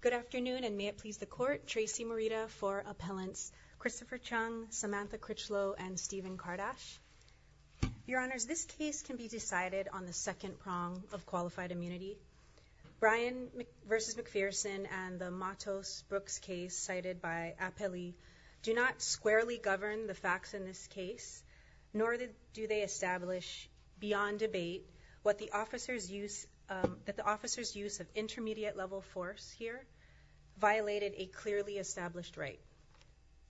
Good afternoon, and may it please the Court, Tracy Morita for Appellants Christopher Chung, Samantha Critchlow, and Stephen Kardash. Your Honors, this case can be decided on the second prong of qualified immunity. Brian v. McPherson and the Matos-Brooks case cited by Appellee do not squarely govern the facts in this case, nor do they establish, beyond debate, that the officer's use of intermediate-level force here violated a clearly established right.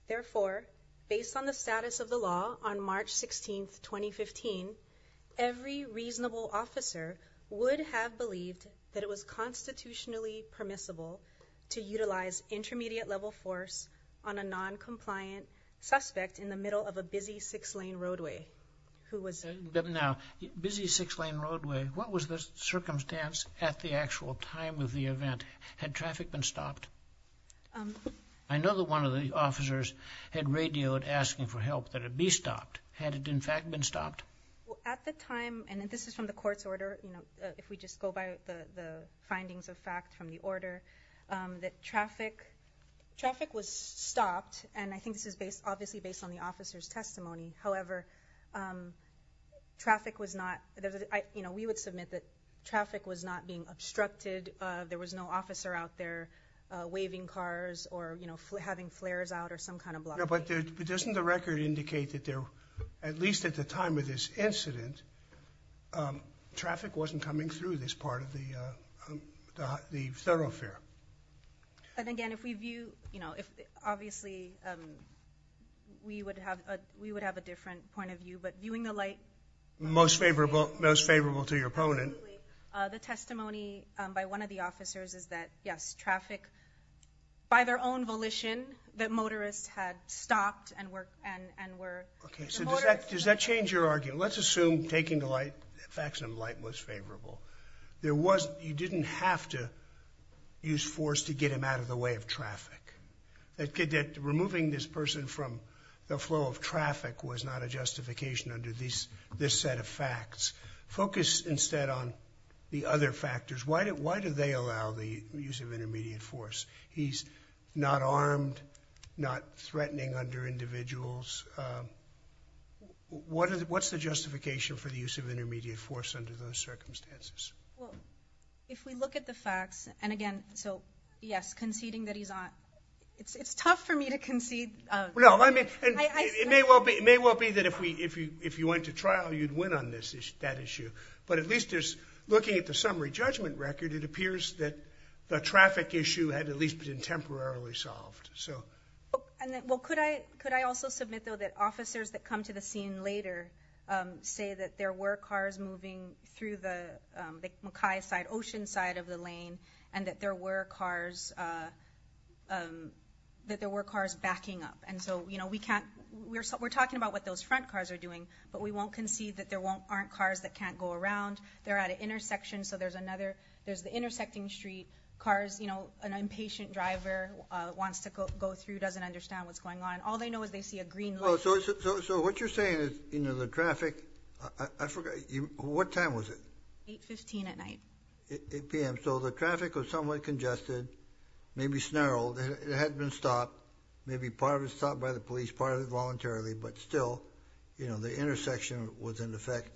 Therefore, based on the status of the law on March 16, 2015, every reasonable officer would have believed that it was constitutionally permissible to utilize intermediate-level force on a non-compliant suspect in the middle of a busy six-lane roadway who was— Now, busy six-lane roadway, what was the circumstance at the actual time of the event? Had traffic been stopped? I know that one of the officers had radioed asking for help that it be stopped. Had it, in fact, been stopped? At the time, and this is from the Court's order, if we just go by the findings of fact from the order, that traffic was stopped, and I think this is obviously based on the traffic was not—we would submit that traffic was not being obstructed, there was no officer out there waving cars or having flares out or some kind of blocking. But doesn't the record indicate that there, at least at the time of this incident, traffic wasn't coming through this part of the thoroughfare? And again, if we view—obviously, we would have a different point of view, but viewing the light— Most favorable, most favorable to your opponent. Absolutely. The testimony by one of the officers is that, yes, traffic, by their own volition, that motorists had stopped and were— Okay, so does that change your argument? Let's assume taking the light, facts in the light, was favorable. There was—you didn't have to use force to get him out of the way of traffic. That removing this person from the flow of traffic was not a justification under this set of facts. Focus instead on the other factors. Why do they allow the use of intermediate force? He's not armed, not threatening under individuals. What's the justification for the use of intermediate force under those circumstances? Well, if we look at the facts, and again, so yes, conceding that he's on—it's tough for me to concede— No, I mean, it may well be that if you went to trial, you'd win on that issue, but at least there's—looking at the summary judgment record, it appears that the traffic issue had at least been temporarily solved, so— Well, could I also submit, though, that officers that come to the scene later say that there were cars moving through the Mackay side, Ocean side of the lane, and that there were cars—that there were cars backing up, and so, you know, we can't—we're talking about what those front cars are doing, but we won't concede that there aren't cars that can't go around. They're at an intersection, so there's another—there's the intersecting street, cars, you know, an impatient driver wants to go through, doesn't understand what's going on. All they know is they see a green light. Well, so what you're saying is, you know, the traffic—I forgot, what time was it? 8.15 at night. 8 p.m. So the traffic was somewhat congested, maybe snarled, it hadn't been stopped, maybe part of it was stopped by the police, part of it voluntarily, but still, you know, the intersection was in effect,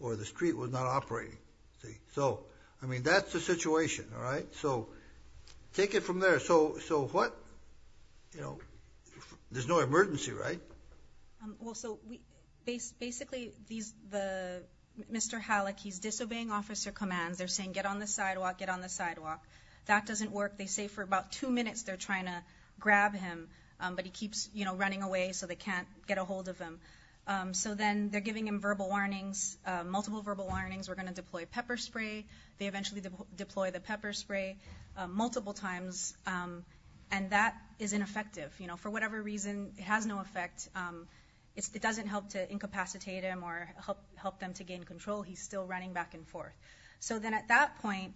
or the street was not operating, see? So I mean, that's the situation, all right? So take it from there. So what—you know, there's no emergency, right? Well, so basically, these—Mr. Halleck, he's disobeying officer commands. They're saying, get on the sidewalk, get on the sidewalk. That doesn't work. They say for about two minutes they're trying to grab him, but he keeps, you know, running away so they can't get a hold of him. So then they're giving him verbal warnings, multiple verbal warnings. We're going to deploy pepper spray. They eventually deploy the pepper spray multiple times, and that is ineffective, you know? For whatever reason, it has no effect. It doesn't help to incapacitate him or help them to gain control. He's still running back and forth. So then at that point,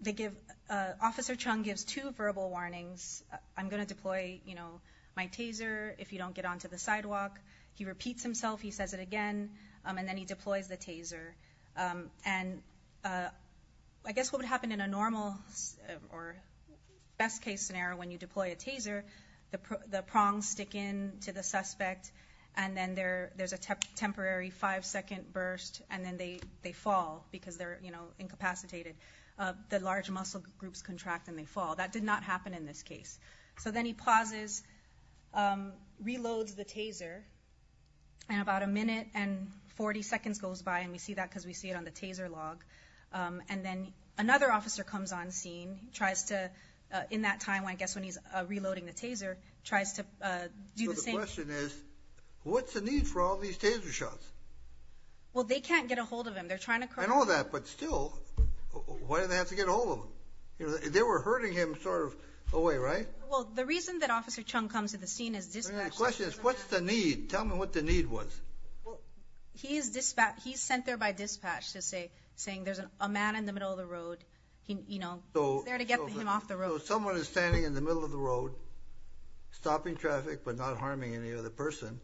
they give—Officer Chung gives two verbal warnings. I'm going to deploy, you know, my taser if you don't get onto the sidewalk. He repeats himself. He says it again, and then he deploys the taser. And I guess what would happen in a normal or best-case scenario when you deploy a taser, the prongs stick in to the suspect, and then there's a temporary five-second burst, and then they fall because they're, you know, incapacitated. The large muscle groups contract and they fall. That did not happen in this case. So then he pauses, reloads the taser, and about a minute and 40 seconds goes by, and we see that because we see it on the taser log. And then another officer comes on scene, tries to—in that time, I guess when he's reloading the taser—tries to do the same. So the question is, what's the need for all these taser shots? Well, they can't get a hold of him. They're trying to— I know that, but still, why did they have to get a hold of him? They were hurting him sort of away, right? Well, the reason that Officer Chung comes to the scene is dispatch— The question is, what's the need? Tell me what the need was. Well, he is dispatched—he's sent there by dispatch to say—saying there's a man in the middle of the road. He, you know— So— He's there to get him off the road. So if someone is standing in the middle of the road, stopping traffic, but not harming any other person,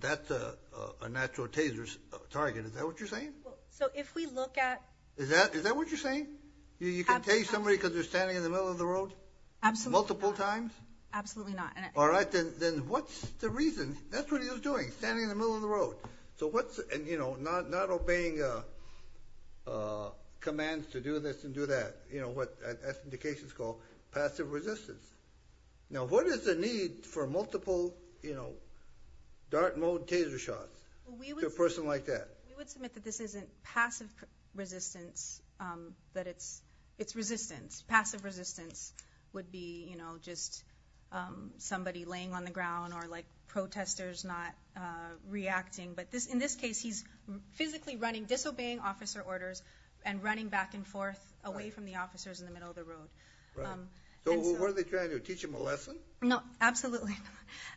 that's a natural taser target, is that what you're saying? So if we look at— Is that—is that what you're saying? You can tase somebody because they're standing in the middle of the road? Absolutely not. Multiple times? Absolutely not. All right, then what's the reason? That's what he was doing, standing in the middle of the road. So what's—and, you know, not—not obeying commands to do this and do that, you know, what—that's what indications call passive resistance. Now what is the need for multiple, you know, dart mode taser shots to a person like that? We would submit that this isn't passive resistance, that it's—it's resistance. Passive resistance would be, you know, just somebody laying on the ground or, like, protesters not reacting, but this—in this case, he's physically running, disobeying officer orders, and running back and forth away from the officers in the middle of the road. Right. And so— So what are they trying to do? Teach him a lesson? No. Absolutely not.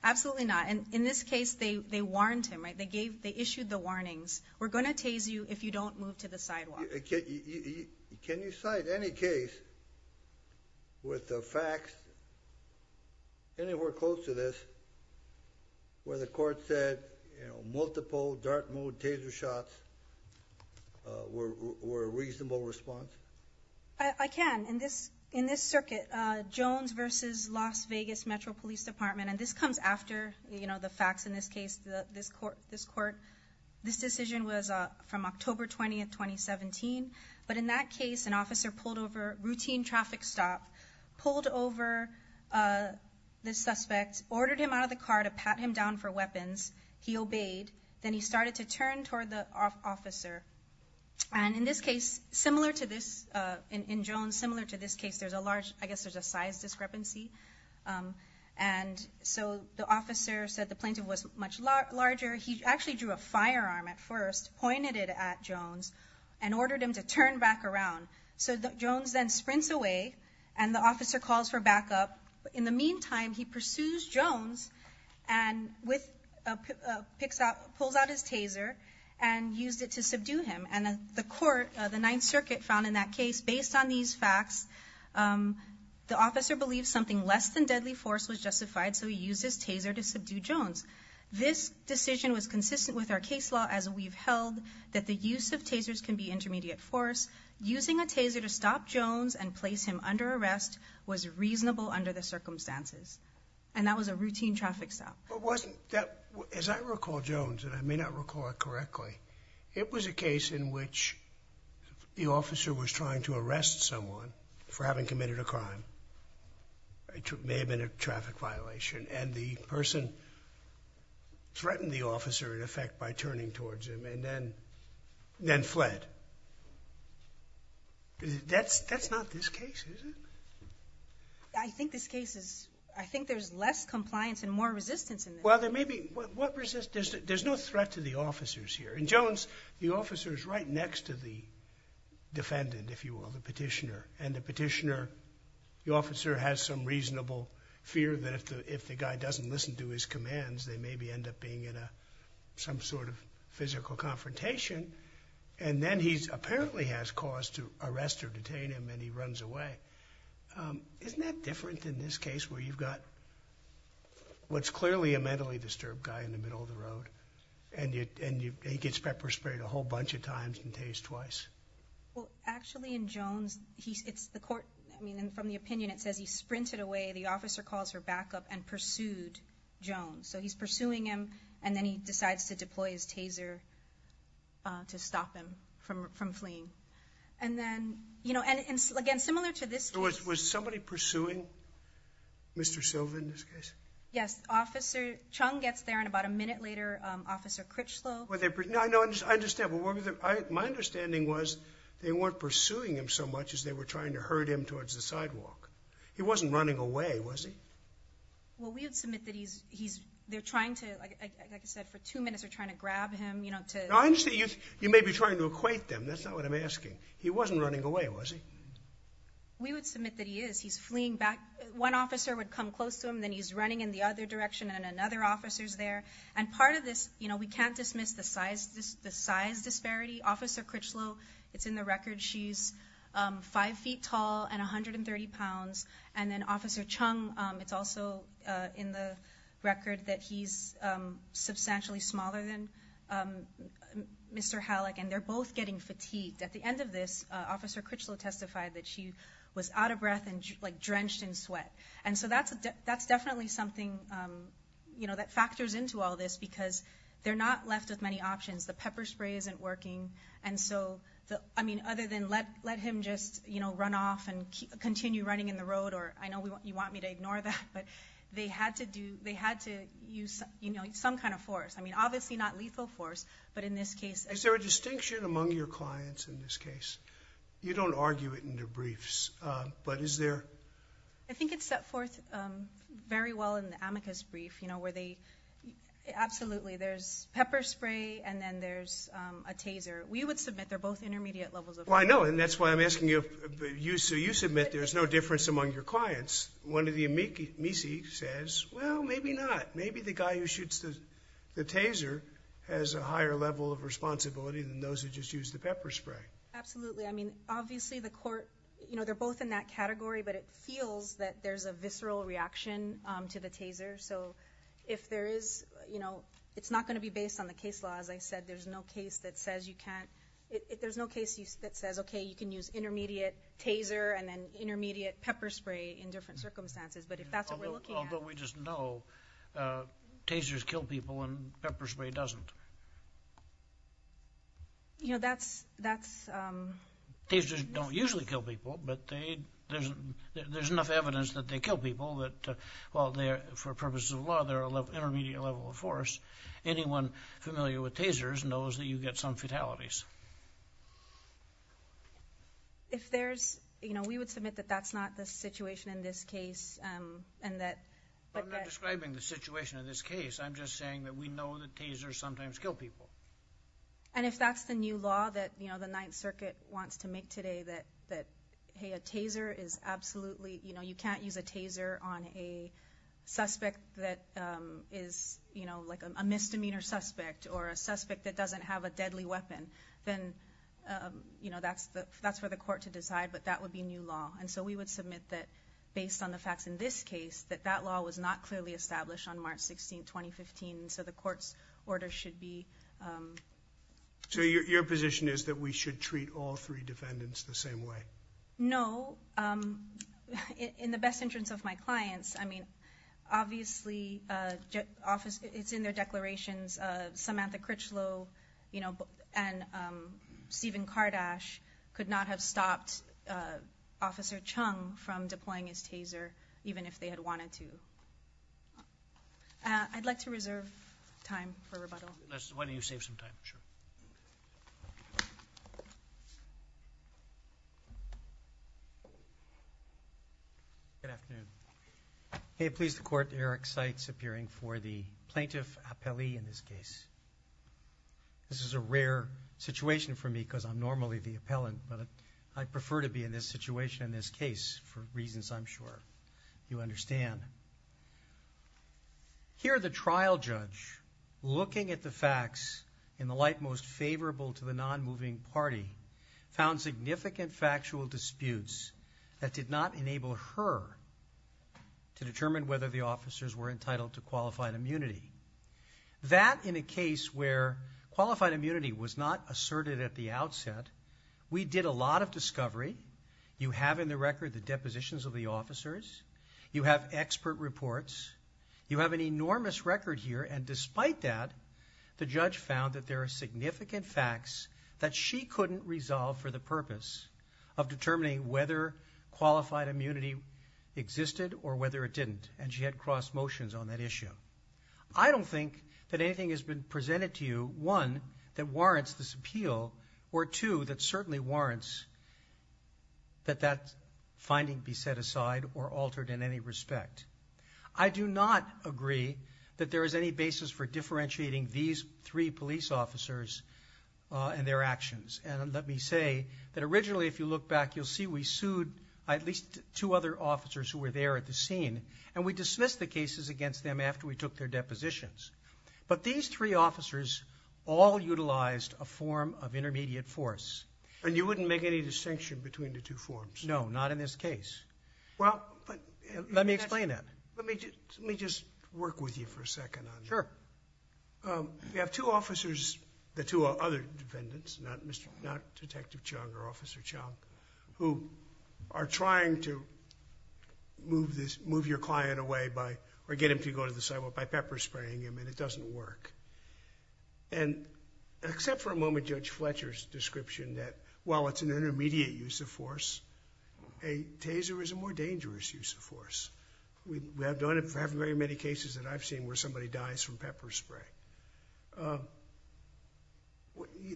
Absolutely not. And in this case, they—they warned him, right? They gave—they issued the warnings, we're going to tase you if you don't move to the sidewalk. Now, can you—can you cite any case with the facts anywhere close to this where the court said, you know, multiple dart mode taser shots were—were a reasonable response? I can. In this—in this circuit, Jones versus Las Vegas Metro Police Department, and this comes after, you know, the facts in this case, this court—this court, this decision was from October 20th, 2017, but in that case, an officer pulled over, routine traffic stop, pulled over this suspect, ordered him out of the car to pat him down for weapons. He obeyed. Then he started to turn toward the officer, and in this case, similar to this—in Jones, similar to this case, there's a large—I guess there's a size discrepancy, and so the officer said the plaintiff was much larger. He actually drew a firearm at first, pointed it at Jones, and ordered him to turn back around. So Jones then sprints away, and the officer calls for backup. In the meantime, he pursues Jones and with—picks out—pulls out his taser and used it to subdue him. And the court, the Ninth Circuit, found in that case, based on these facts, the officer believed something less than deadly force was justified, so he used his taser to subdue Jones. This decision was consistent with our case law as we've held, that the use of tasers can be intermediate force. Using a taser to stop Jones and place him under arrest was reasonable under the circumstances. And that was a routine traffic stop. But wasn't that—as I recall, Jones, and I may not recall it correctly, it was a case in which the officer was trying to arrest someone for having committed a crime. It may have been a traffic violation. And the person threatened the officer, in effect, by turning towards him, and then fled. That's not this case, is it? I think this case is—I think there's less compliance and more resistance in this case. Well, there may be—what resistance—there's no threat to the officers here. In Jones, the officer is right next to the defendant, if you will, the petitioner. And the petitioner—the officer has some reasonable fear that if the guy doesn't listen to his commands, they maybe end up being in some sort of physical confrontation. And then he apparently has cause to arrest or detain him, and he runs away. Isn't that different in this case, where you've got what's clearly a mentally disturbed guy in the middle of the road, and he gets pepper-sprayed a whole bunch of times and tased twice? Well, actually, in Jones, it's the court—I mean, from the opinion, it says he sprinted away. The officer calls for backup and pursued Jones. So he's pursuing him, and then he decides to deploy his taser to stop him from fleeing. And then, you know—and again, similar to this case— Was somebody pursuing Mr. Silva in this case? Yes. Officer Chung gets there, and about a minute later, Officer Critchlow— No, I understand. My understanding was they weren't pursuing him so much as they were trying to herd him towards the sidewalk. He wasn't running away, was he? Well, we would submit that he's—they're trying to, like I said, for two minutes, they're trying to grab him, you know, to— No, I understand. You may be trying to equate them. That's not what I'm asking. He wasn't running away, was he? We would submit that he is. He's fleeing back. One officer would come close to him, then he's running in the other direction, and another officer's there. And part of this, you know, we can't dismiss the size disparity. Officer Critchlow, it's in the record, she's five feet tall and 130 pounds. And then Officer Chung, it's also in the record that he's substantially smaller than Mr. Halleck, and they're both getting fatigued. At the end of this, Officer Critchlow testified that she was out of breath and, like, drenched in sweat. And so that's definitely something, you know, that factors into all this, because they're not left with many options. The pepper spray isn't working. And so, I mean, other than let him just, you know, run off and continue running in the road, or I know you want me to ignore that, but they had to do—they had to use, you know, some kind of force. I mean, obviously not lethal force, but in this case— Is there a distinction among your clients in this case? You don't argue it in debriefs, but is there— I think it's set forth very well in the amicus brief, you know, where they—absolutely, there's pepper spray and then there's a taser. We would submit they're both intermediate levels of— Well, I know, and that's why I'm asking you—so you submit there's no difference among your clients. One of the amici says, well, maybe not. Maybe the guy who shoots the taser has a higher level of responsibility than those who just use the pepper spray. Absolutely. I mean, obviously the court—you know, they're both in that category, but it feels that there's a visceral reaction to the taser, so if there is—you know, it's not going to be based on the case law. As I said, there's no case that says you can't—there's no case that says, okay, you can use intermediate taser and then intermediate pepper spray in different circumstances, but if that's what we're looking at— Although we just know tasers kill people and pepper spray doesn't. You know, that's— Tasers don't usually kill people, but there's enough evidence that they kill people that—well, for purposes of law, they're an intermediate level of force. Anyone familiar with tasers knows that you get some fatalities. If there's—you know, we would submit that that's not the situation in this case and that— I'm not describing the situation in this case. I'm just saying that we know that tasers sometimes kill people. And if that's the new law that, you know, the Ninth Circuit wants to make today, that hey, a taser is absolutely—you know, you can't use a taser on a suspect that is, you know, like a misdemeanor suspect or a suspect that doesn't have a deadly weapon, then, you know, that's for the court to decide, but that would be new law. And so we would submit that, based on the facts in this case, that that law was not clearly established on March 16, 2015, and so the court's order should be— So your position is that we should treat all three defendants the same way? No. In the best interest of my clients, I mean, obviously, it's in their declarations. Samantha Critchlow, you know, and Stephen Kardash could not have stopped Officer Chung from deploying his taser, even if they had wanted to. I'd like to reserve time for rebuttal. Why don't you save some time? Sure. Good afternoon. May it please the Court, Eric Seitz appearing for the plaintiff appellee in this case. This is a rare situation for me because I'm normally the appellant, but I prefer to be in this situation, in this case, for reasons I'm sure you understand. Here the trial judge, looking at the facts in the light most favorable to the non-moving party, found significant factual disputes that did not enable her to determine whether the officers were entitled to qualified immunity. That in a case where qualified immunity was not asserted at the outset, we did a lot of You have in the record the depositions of the officers. You have expert reports. You have an enormous record here, and despite that, the judge found that there are significant facts that she couldn't resolve for the purpose of determining whether qualified immunity existed or whether it didn't, and she had cross motions on that issue. I don't think that anything has been presented to you, one, that warrants this appeal, or two, that certainly warrants that that finding be set aside or altered in any respect. I do not agree that there is any basis for differentiating these three police officers and their actions, and let me say that originally, if you look back, you'll see we sued at least two other officers who were there at the scene, and we dismissed the cases against them after we took their depositions. But these three officers all utilized a form of intermediate force. And you wouldn't make any distinction between the two forms? No, not in this case. Well, but Let me explain that. Let me just work with you for a second on this. Sure. We have two officers, the two other defendants, not Detective Chung or Officer Chung, who are trying to move this, move your client away by, or get him to go to the sidewalk by pepper spraying him, and it doesn't work. And except for a moment, Judge Fletcher's description that while it's an intermediate use of force, a taser is a more dangerous use of force. We have done it for having very many cases that I've seen where somebody dies from pepper spray.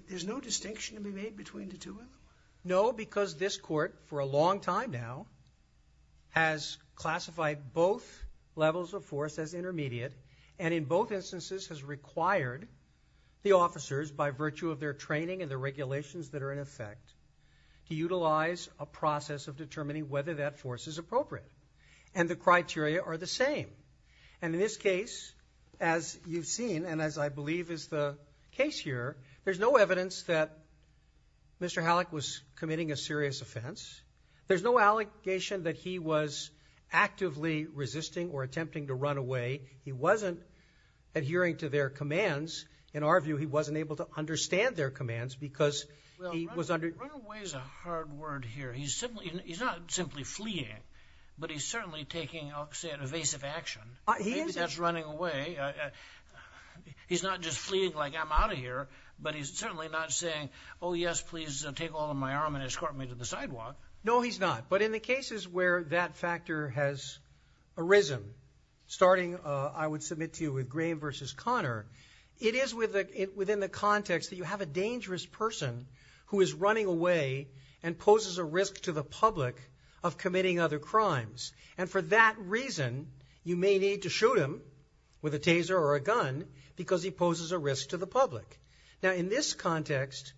There's no distinction to be made between the two of them? No, because this court, for a long time now, has classified both levels of force as intermediate, and in both instances has required the officers, by virtue of their training and the regulations that are in effect, to utilize a process of determining whether that force is appropriate. And the criteria are the same. And in this case, as you've seen, and as I believe is the case here, there's no evidence that Mr. Halleck was committing a serious offense. There's no allegation that he was actively resisting or attempting to run away. He wasn't adhering to their commands. In our view, he wasn't able to understand their commands, because he was under- Well, runaway is a hard word here. He's not simply fleeing, but he's certainly taking, I'll say, an evasive action. That's running away. He's not just fleeing like, I'm out of here, but he's certainly not saying, oh yes, please take hold of my arm and escort me to the sidewalk. No, he's not. But in the cases where that factor has arisen, starting, I would submit to you, with Graham versus Connor, it is within the context that you have a dangerous person who is running away and poses a risk to the public of committing other crimes. And for that reason, you may need to shoot him with a taser or a gun, because he poses a risk to the public. Now, in this context,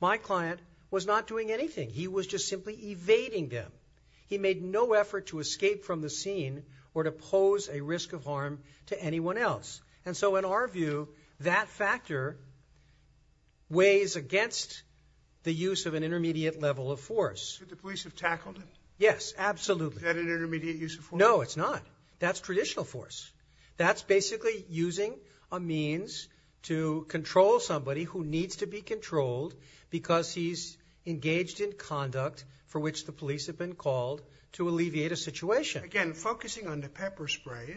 my client was not doing anything. He was just simply evading them. He made no effort to escape from the scene or to pose a risk of harm to anyone else. And so in our view, that factor weighs against the use of an intermediate level of force. Should the police have tackled him? Yes, absolutely. Is that an intermediate use of force? No, it's not. That's traditional force. That's basically using a means to control somebody who needs to be controlled because he's engaged in conduct for which the police have been called to alleviate a situation. Again, focusing on the pepper spray,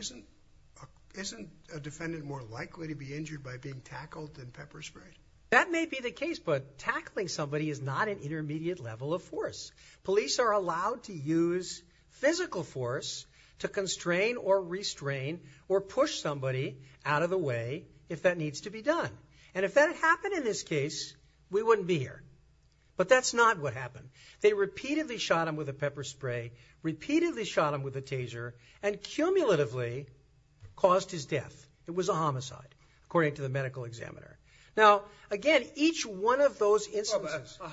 isn't a defendant more likely to be injured by being tackled than pepper sprayed? That may be the case, but tackling somebody is not an intermediate level of force. Police are allowed to use physical force to constrain or restrain or push somebody out of the way if that needs to be done. And if that had happened in this case, we wouldn't be here. But that's not what happened. They repeatedly shot him with a pepper spray, repeatedly shot him with a taser, and cumulatively caused his death. It was a homicide, according to the medical examiner. Now, again, each one of those instances... Or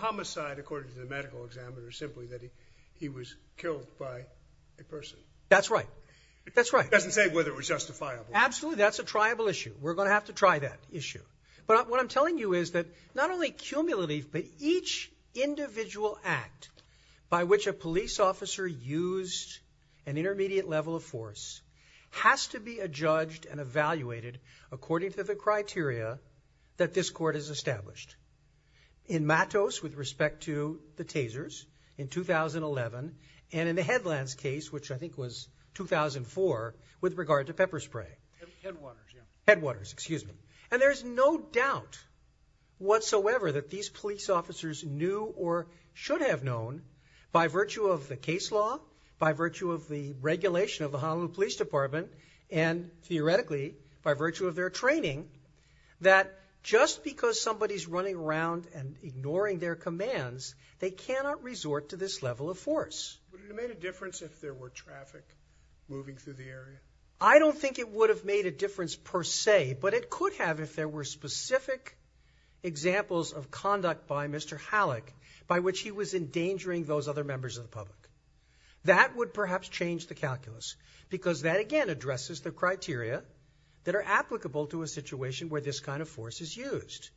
simply that he was killed by a person. That's right. That's right. It doesn't say whether it was justifiable. Absolutely. That's a triable issue. We're going to have to try that issue. But what I'm telling you is that not only cumulatively, but each individual act by which a police officer used an intermediate level of force has to be adjudged and evaluated according to the criteria that this court has established. In Matos, with respect to the tasers, in 2011, and in the Headlands case, which I think was 2004, with regard to pepper spray. Headwaters, yeah. Headwaters, excuse me. And there's no doubt whatsoever that these police officers knew or should have known, by virtue of the case law, by virtue of the regulation of the Honolulu Police Department, and theoretically, by virtue of their training, that just because somebody's running around and ignoring their commands, they cannot resort to this level of force. Would it have made a difference if there were traffic moving through the area? I don't think it would have made a difference per se, but it could have if there were specific examples of conduct by Mr. Halleck by which he was endangering those other members of the public. That would perhaps change the calculus, because that again addresses the criteria that are applicable to a situation where this kind of force is used.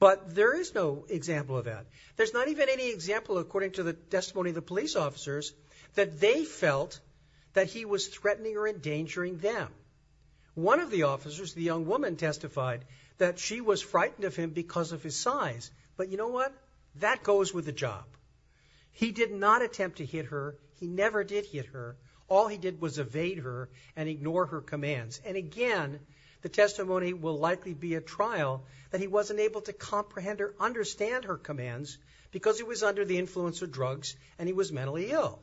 But there is no example of that. There's not even any example, according to the testimony of the police officers, that they felt that he was threatening or endangering them. One of the officers, the young woman, testified that she was frightened of him because of his size. But you know what? That goes with the job. He did not attempt to hit her. He never did hit her. All he did was evade her and ignore her commands. And again, the testimony will likely be a trial that he wasn't able to comprehend or understand her commands because he was under the influence of drugs and he was mentally ill.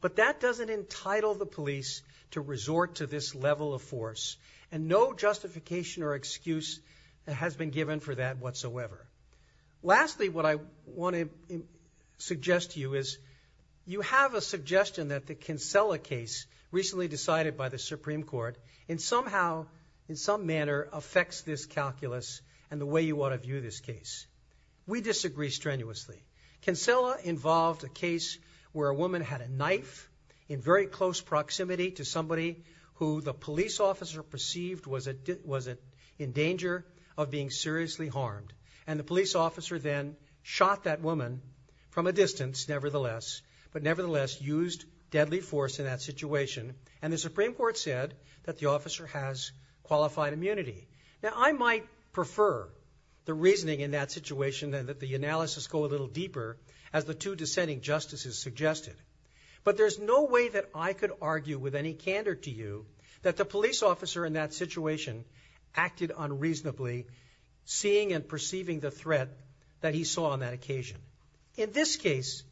But that doesn't entitle the police to resort to this level of force. And no justification or excuse has been given for that whatsoever. Lastly, what I want to suggest to you is you have a suggestion that the Kinsella case recently decided by the Supreme Court and somehow, in some manner, affects this calculus and the way you want to view this case. We disagree strenuously. Kinsella involved a case where a woman had a knife in very close proximity to somebody who the police officer perceived was in danger of being seriously harmed. And the police officer then shot that woman from a distance, nevertheless, but nevertheless used deadly force in that situation. And the Supreme Court said that the officer has qualified immunity. Now, I might prefer the reasoning in that situation and that the analysis go a little deeper, as the two dissenting justices suggested. But there's no way that I could argue with any candor to you that the police officer in that situation acted unreasonably, seeing and perceiving the threat that he saw on that occasion. In this case,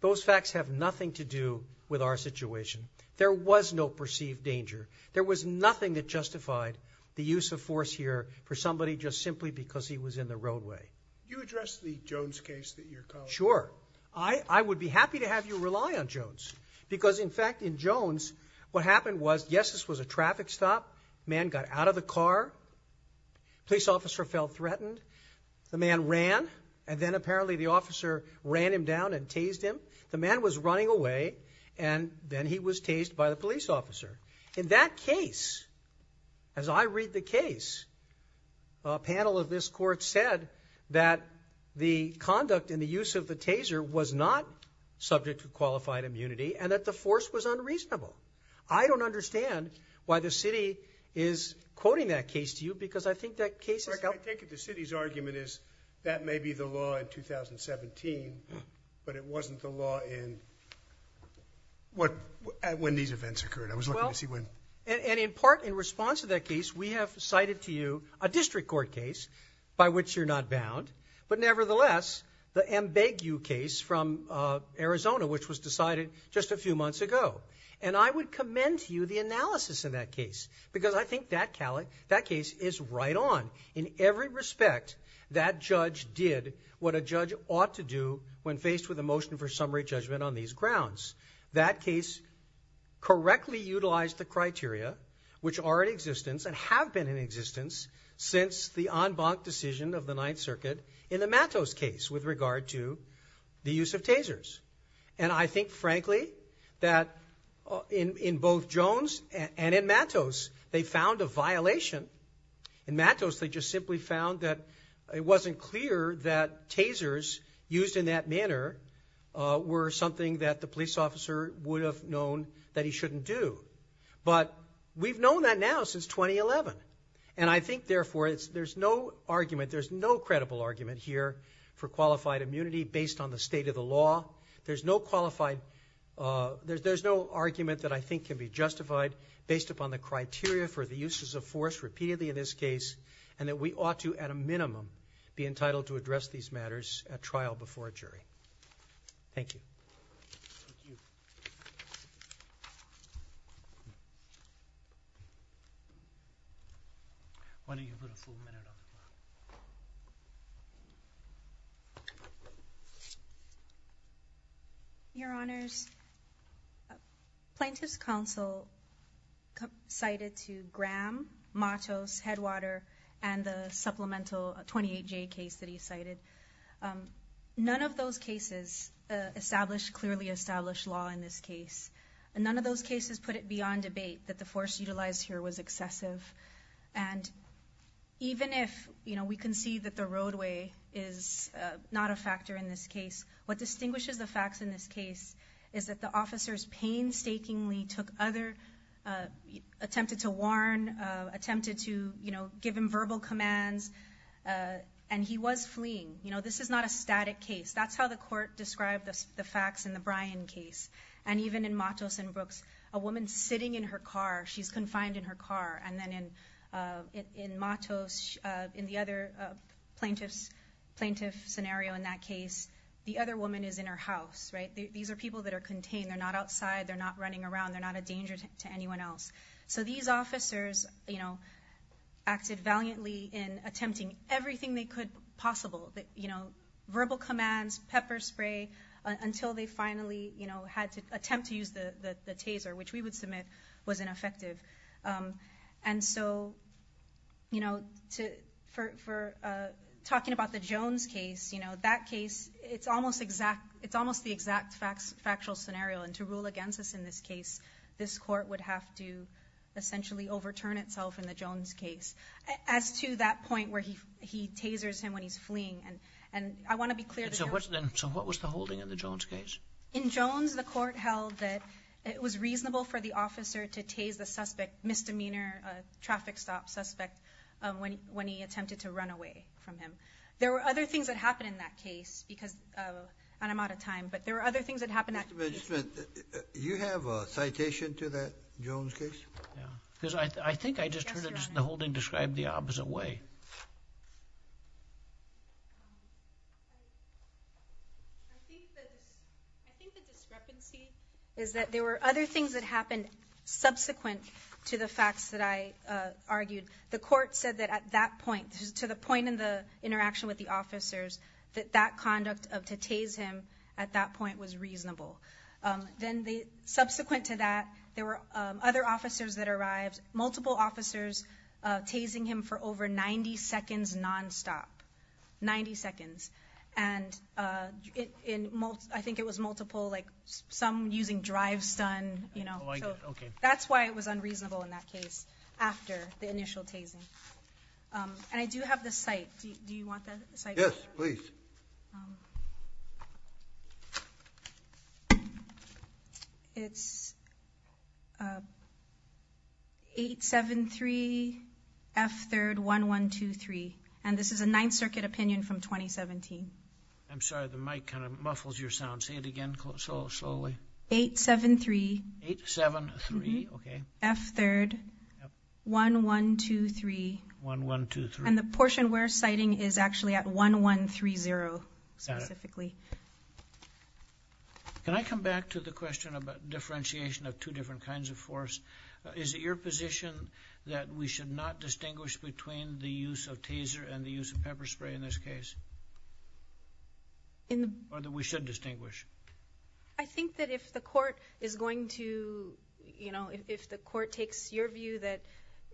those facts have nothing to do with our situation. There was no perceived danger. There was nothing that justified the use of force here for somebody just simply because he was in the roadway. You addressed the Jones case that you're calling. Sure. I would be happy to have you rely on Jones. Because in fact, in Jones, what happened was, yes, this was a traffic stop. Man got out of the car. Police officer felt threatened. The man ran, and then apparently the officer ran him down and tased him. The man was running away, and then he was tased by the police officer. In that case, as I read the case, a panel of this court said that the conduct and the use of the taser was not subject to qualified immunity, and that the force was unreasonable. I don't understand why the city is quoting that case to you, because I think that case is- I take it the city's argument is that may be the law in 2017, but it wasn't the law in when these events occurred. I was looking to see when- Well, and in part, in response to that case, we have cited to you a district court case by which you're not bound. But nevertheless, the Mbegu case from Arizona, which was decided just a few months ago. And I would commend to you the analysis in that case, because I think that case is right on. In every respect, that judge did what a judge ought to do when faced with a motion for summary judgment on these grounds. That case correctly utilized the criteria, which are in existence and have been in existence since the en banc decision of the Ninth Circuit in the Matos case, with regard to the use of tasers. And I think, frankly, that in both Jones and in Matos, they found a violation. In Matos, they just simply found that it wasn't clear that tasers used in that manner were something that the police officer would have known that he shouldn't do. But we've known that now since 2011. And I think, therefore, there's no argument, there's no credible argument here for qualified immunity based on the state of the law. There's no qualified, there's no argument that I think can be justified based upon the criteria for the uses of force repeatedly in this case, and that we ought to, at a minimum, be entitled to address these matters at trial before a jury. Thank you. Thank you. Why don't you put a full minute on the clock? Your Honors, Plaintiff's Counsel cited to Graham, Matos, Headwater, and the supplemental 28J case that he cited. None of those cases established clearly established law in this case. None of those cases put it beyond debate that the force utilized here was excessive. And even if we can see that the roadway is not a factor in this case, what distinguishes the facts in this case is that the officers painstakingly took other, attempted to warn, attempted to give him verbal commands, and he was fleeing. This is not a static case. That's how the court described the facts in the Bryan case. And even in Matos and Brooks, a woman sitting in her car, she's confined in her car, and then in Matos, in the other plaintiff scenario in that case, the other woman is in her house. These are people that are contained. They're not outside. They're not running around. They're not a danger to anyone else. So these officers acted valiantly in attempting everything they could possible. Verbal commands, pepper spray, until they finally had to attempt to use the taser, which we would submit was ineffective. And so for talking about the Jones case, that case, it's almost the exact factual scenario. And to rule against us in this case, this court would have to essentially overturn itself in the Jones case. As to that point where he tasers him when he's fleeing. And I want to be clear. And so what was the holding in the Jones case? In Jones, the court held that it was reasonable for the officer to tase the suspect, misdemeanor, traffic stop suspect, when he attempted to run away from him. There were other things that happened in that case because, and I'm out of time, but there were other things that happened. Mr. Magistrate, do you have a citation to that Jones case? Because I think I just heard the holding described the opposite way. I think the discrepancy is that there were other things that happened subsequent to the facts that I argued. The court said that at that point, to the point in the interaction with the officers, that that conduct of to tase him at that point was reasonable. Subsequent to that, there were other officers that arrived, multiple officers tasing him for over 90 seconds nonstop, 90 seconds. And I think it was multiple, like some using drive stun. That's why it was unreasonable in that case, after the initial tasing. And I do have the cite. Do you want the cite? Yes, please. It's 873 F3rd 1123. And this is a Ninth Circuit opinion from 2017. I'm sorry. The mic kind of muffles your sound. Say it again. So slowly. 873. 873. Okay. F3rd 1123. 1123. And the portion we're citing is actually at 1130 specifically. Can I come back to the question about differentiation of two different kinds of force? Is it your position that we should not distinguish between the use of taser and the use of pepper spray in this case? Or that we should distinguish? I think that if the court is going to, you know, if the court takes your view that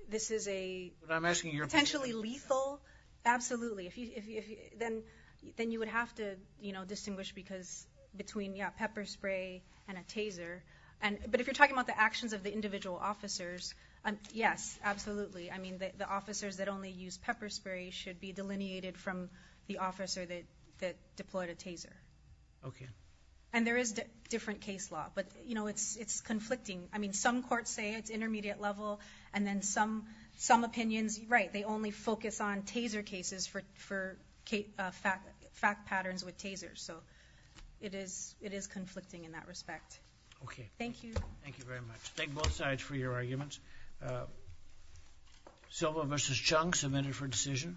this is a... But I'm asking your... Potentially lethal. Absolutely. If you... Then you would have to, you know, distinguish between, yeah, pepper spray and a taser. But if you're talking about the actions of the individual officers, yes, absolutely. I mean, the officers that only use pepper spray should be delineated from the officer that deployed a taser. Okay. And there is different case law. But, you know, it's conflicting. I mean, some courts say it's intermediate level. And then some opinions, right. They only focus on taser cases for fact patterns with tasers. So it is conflicting in that respect. Okay. Thank you. Thank you very much. Thank both sides for your arguments. Silva versus Chung, a minute for decision.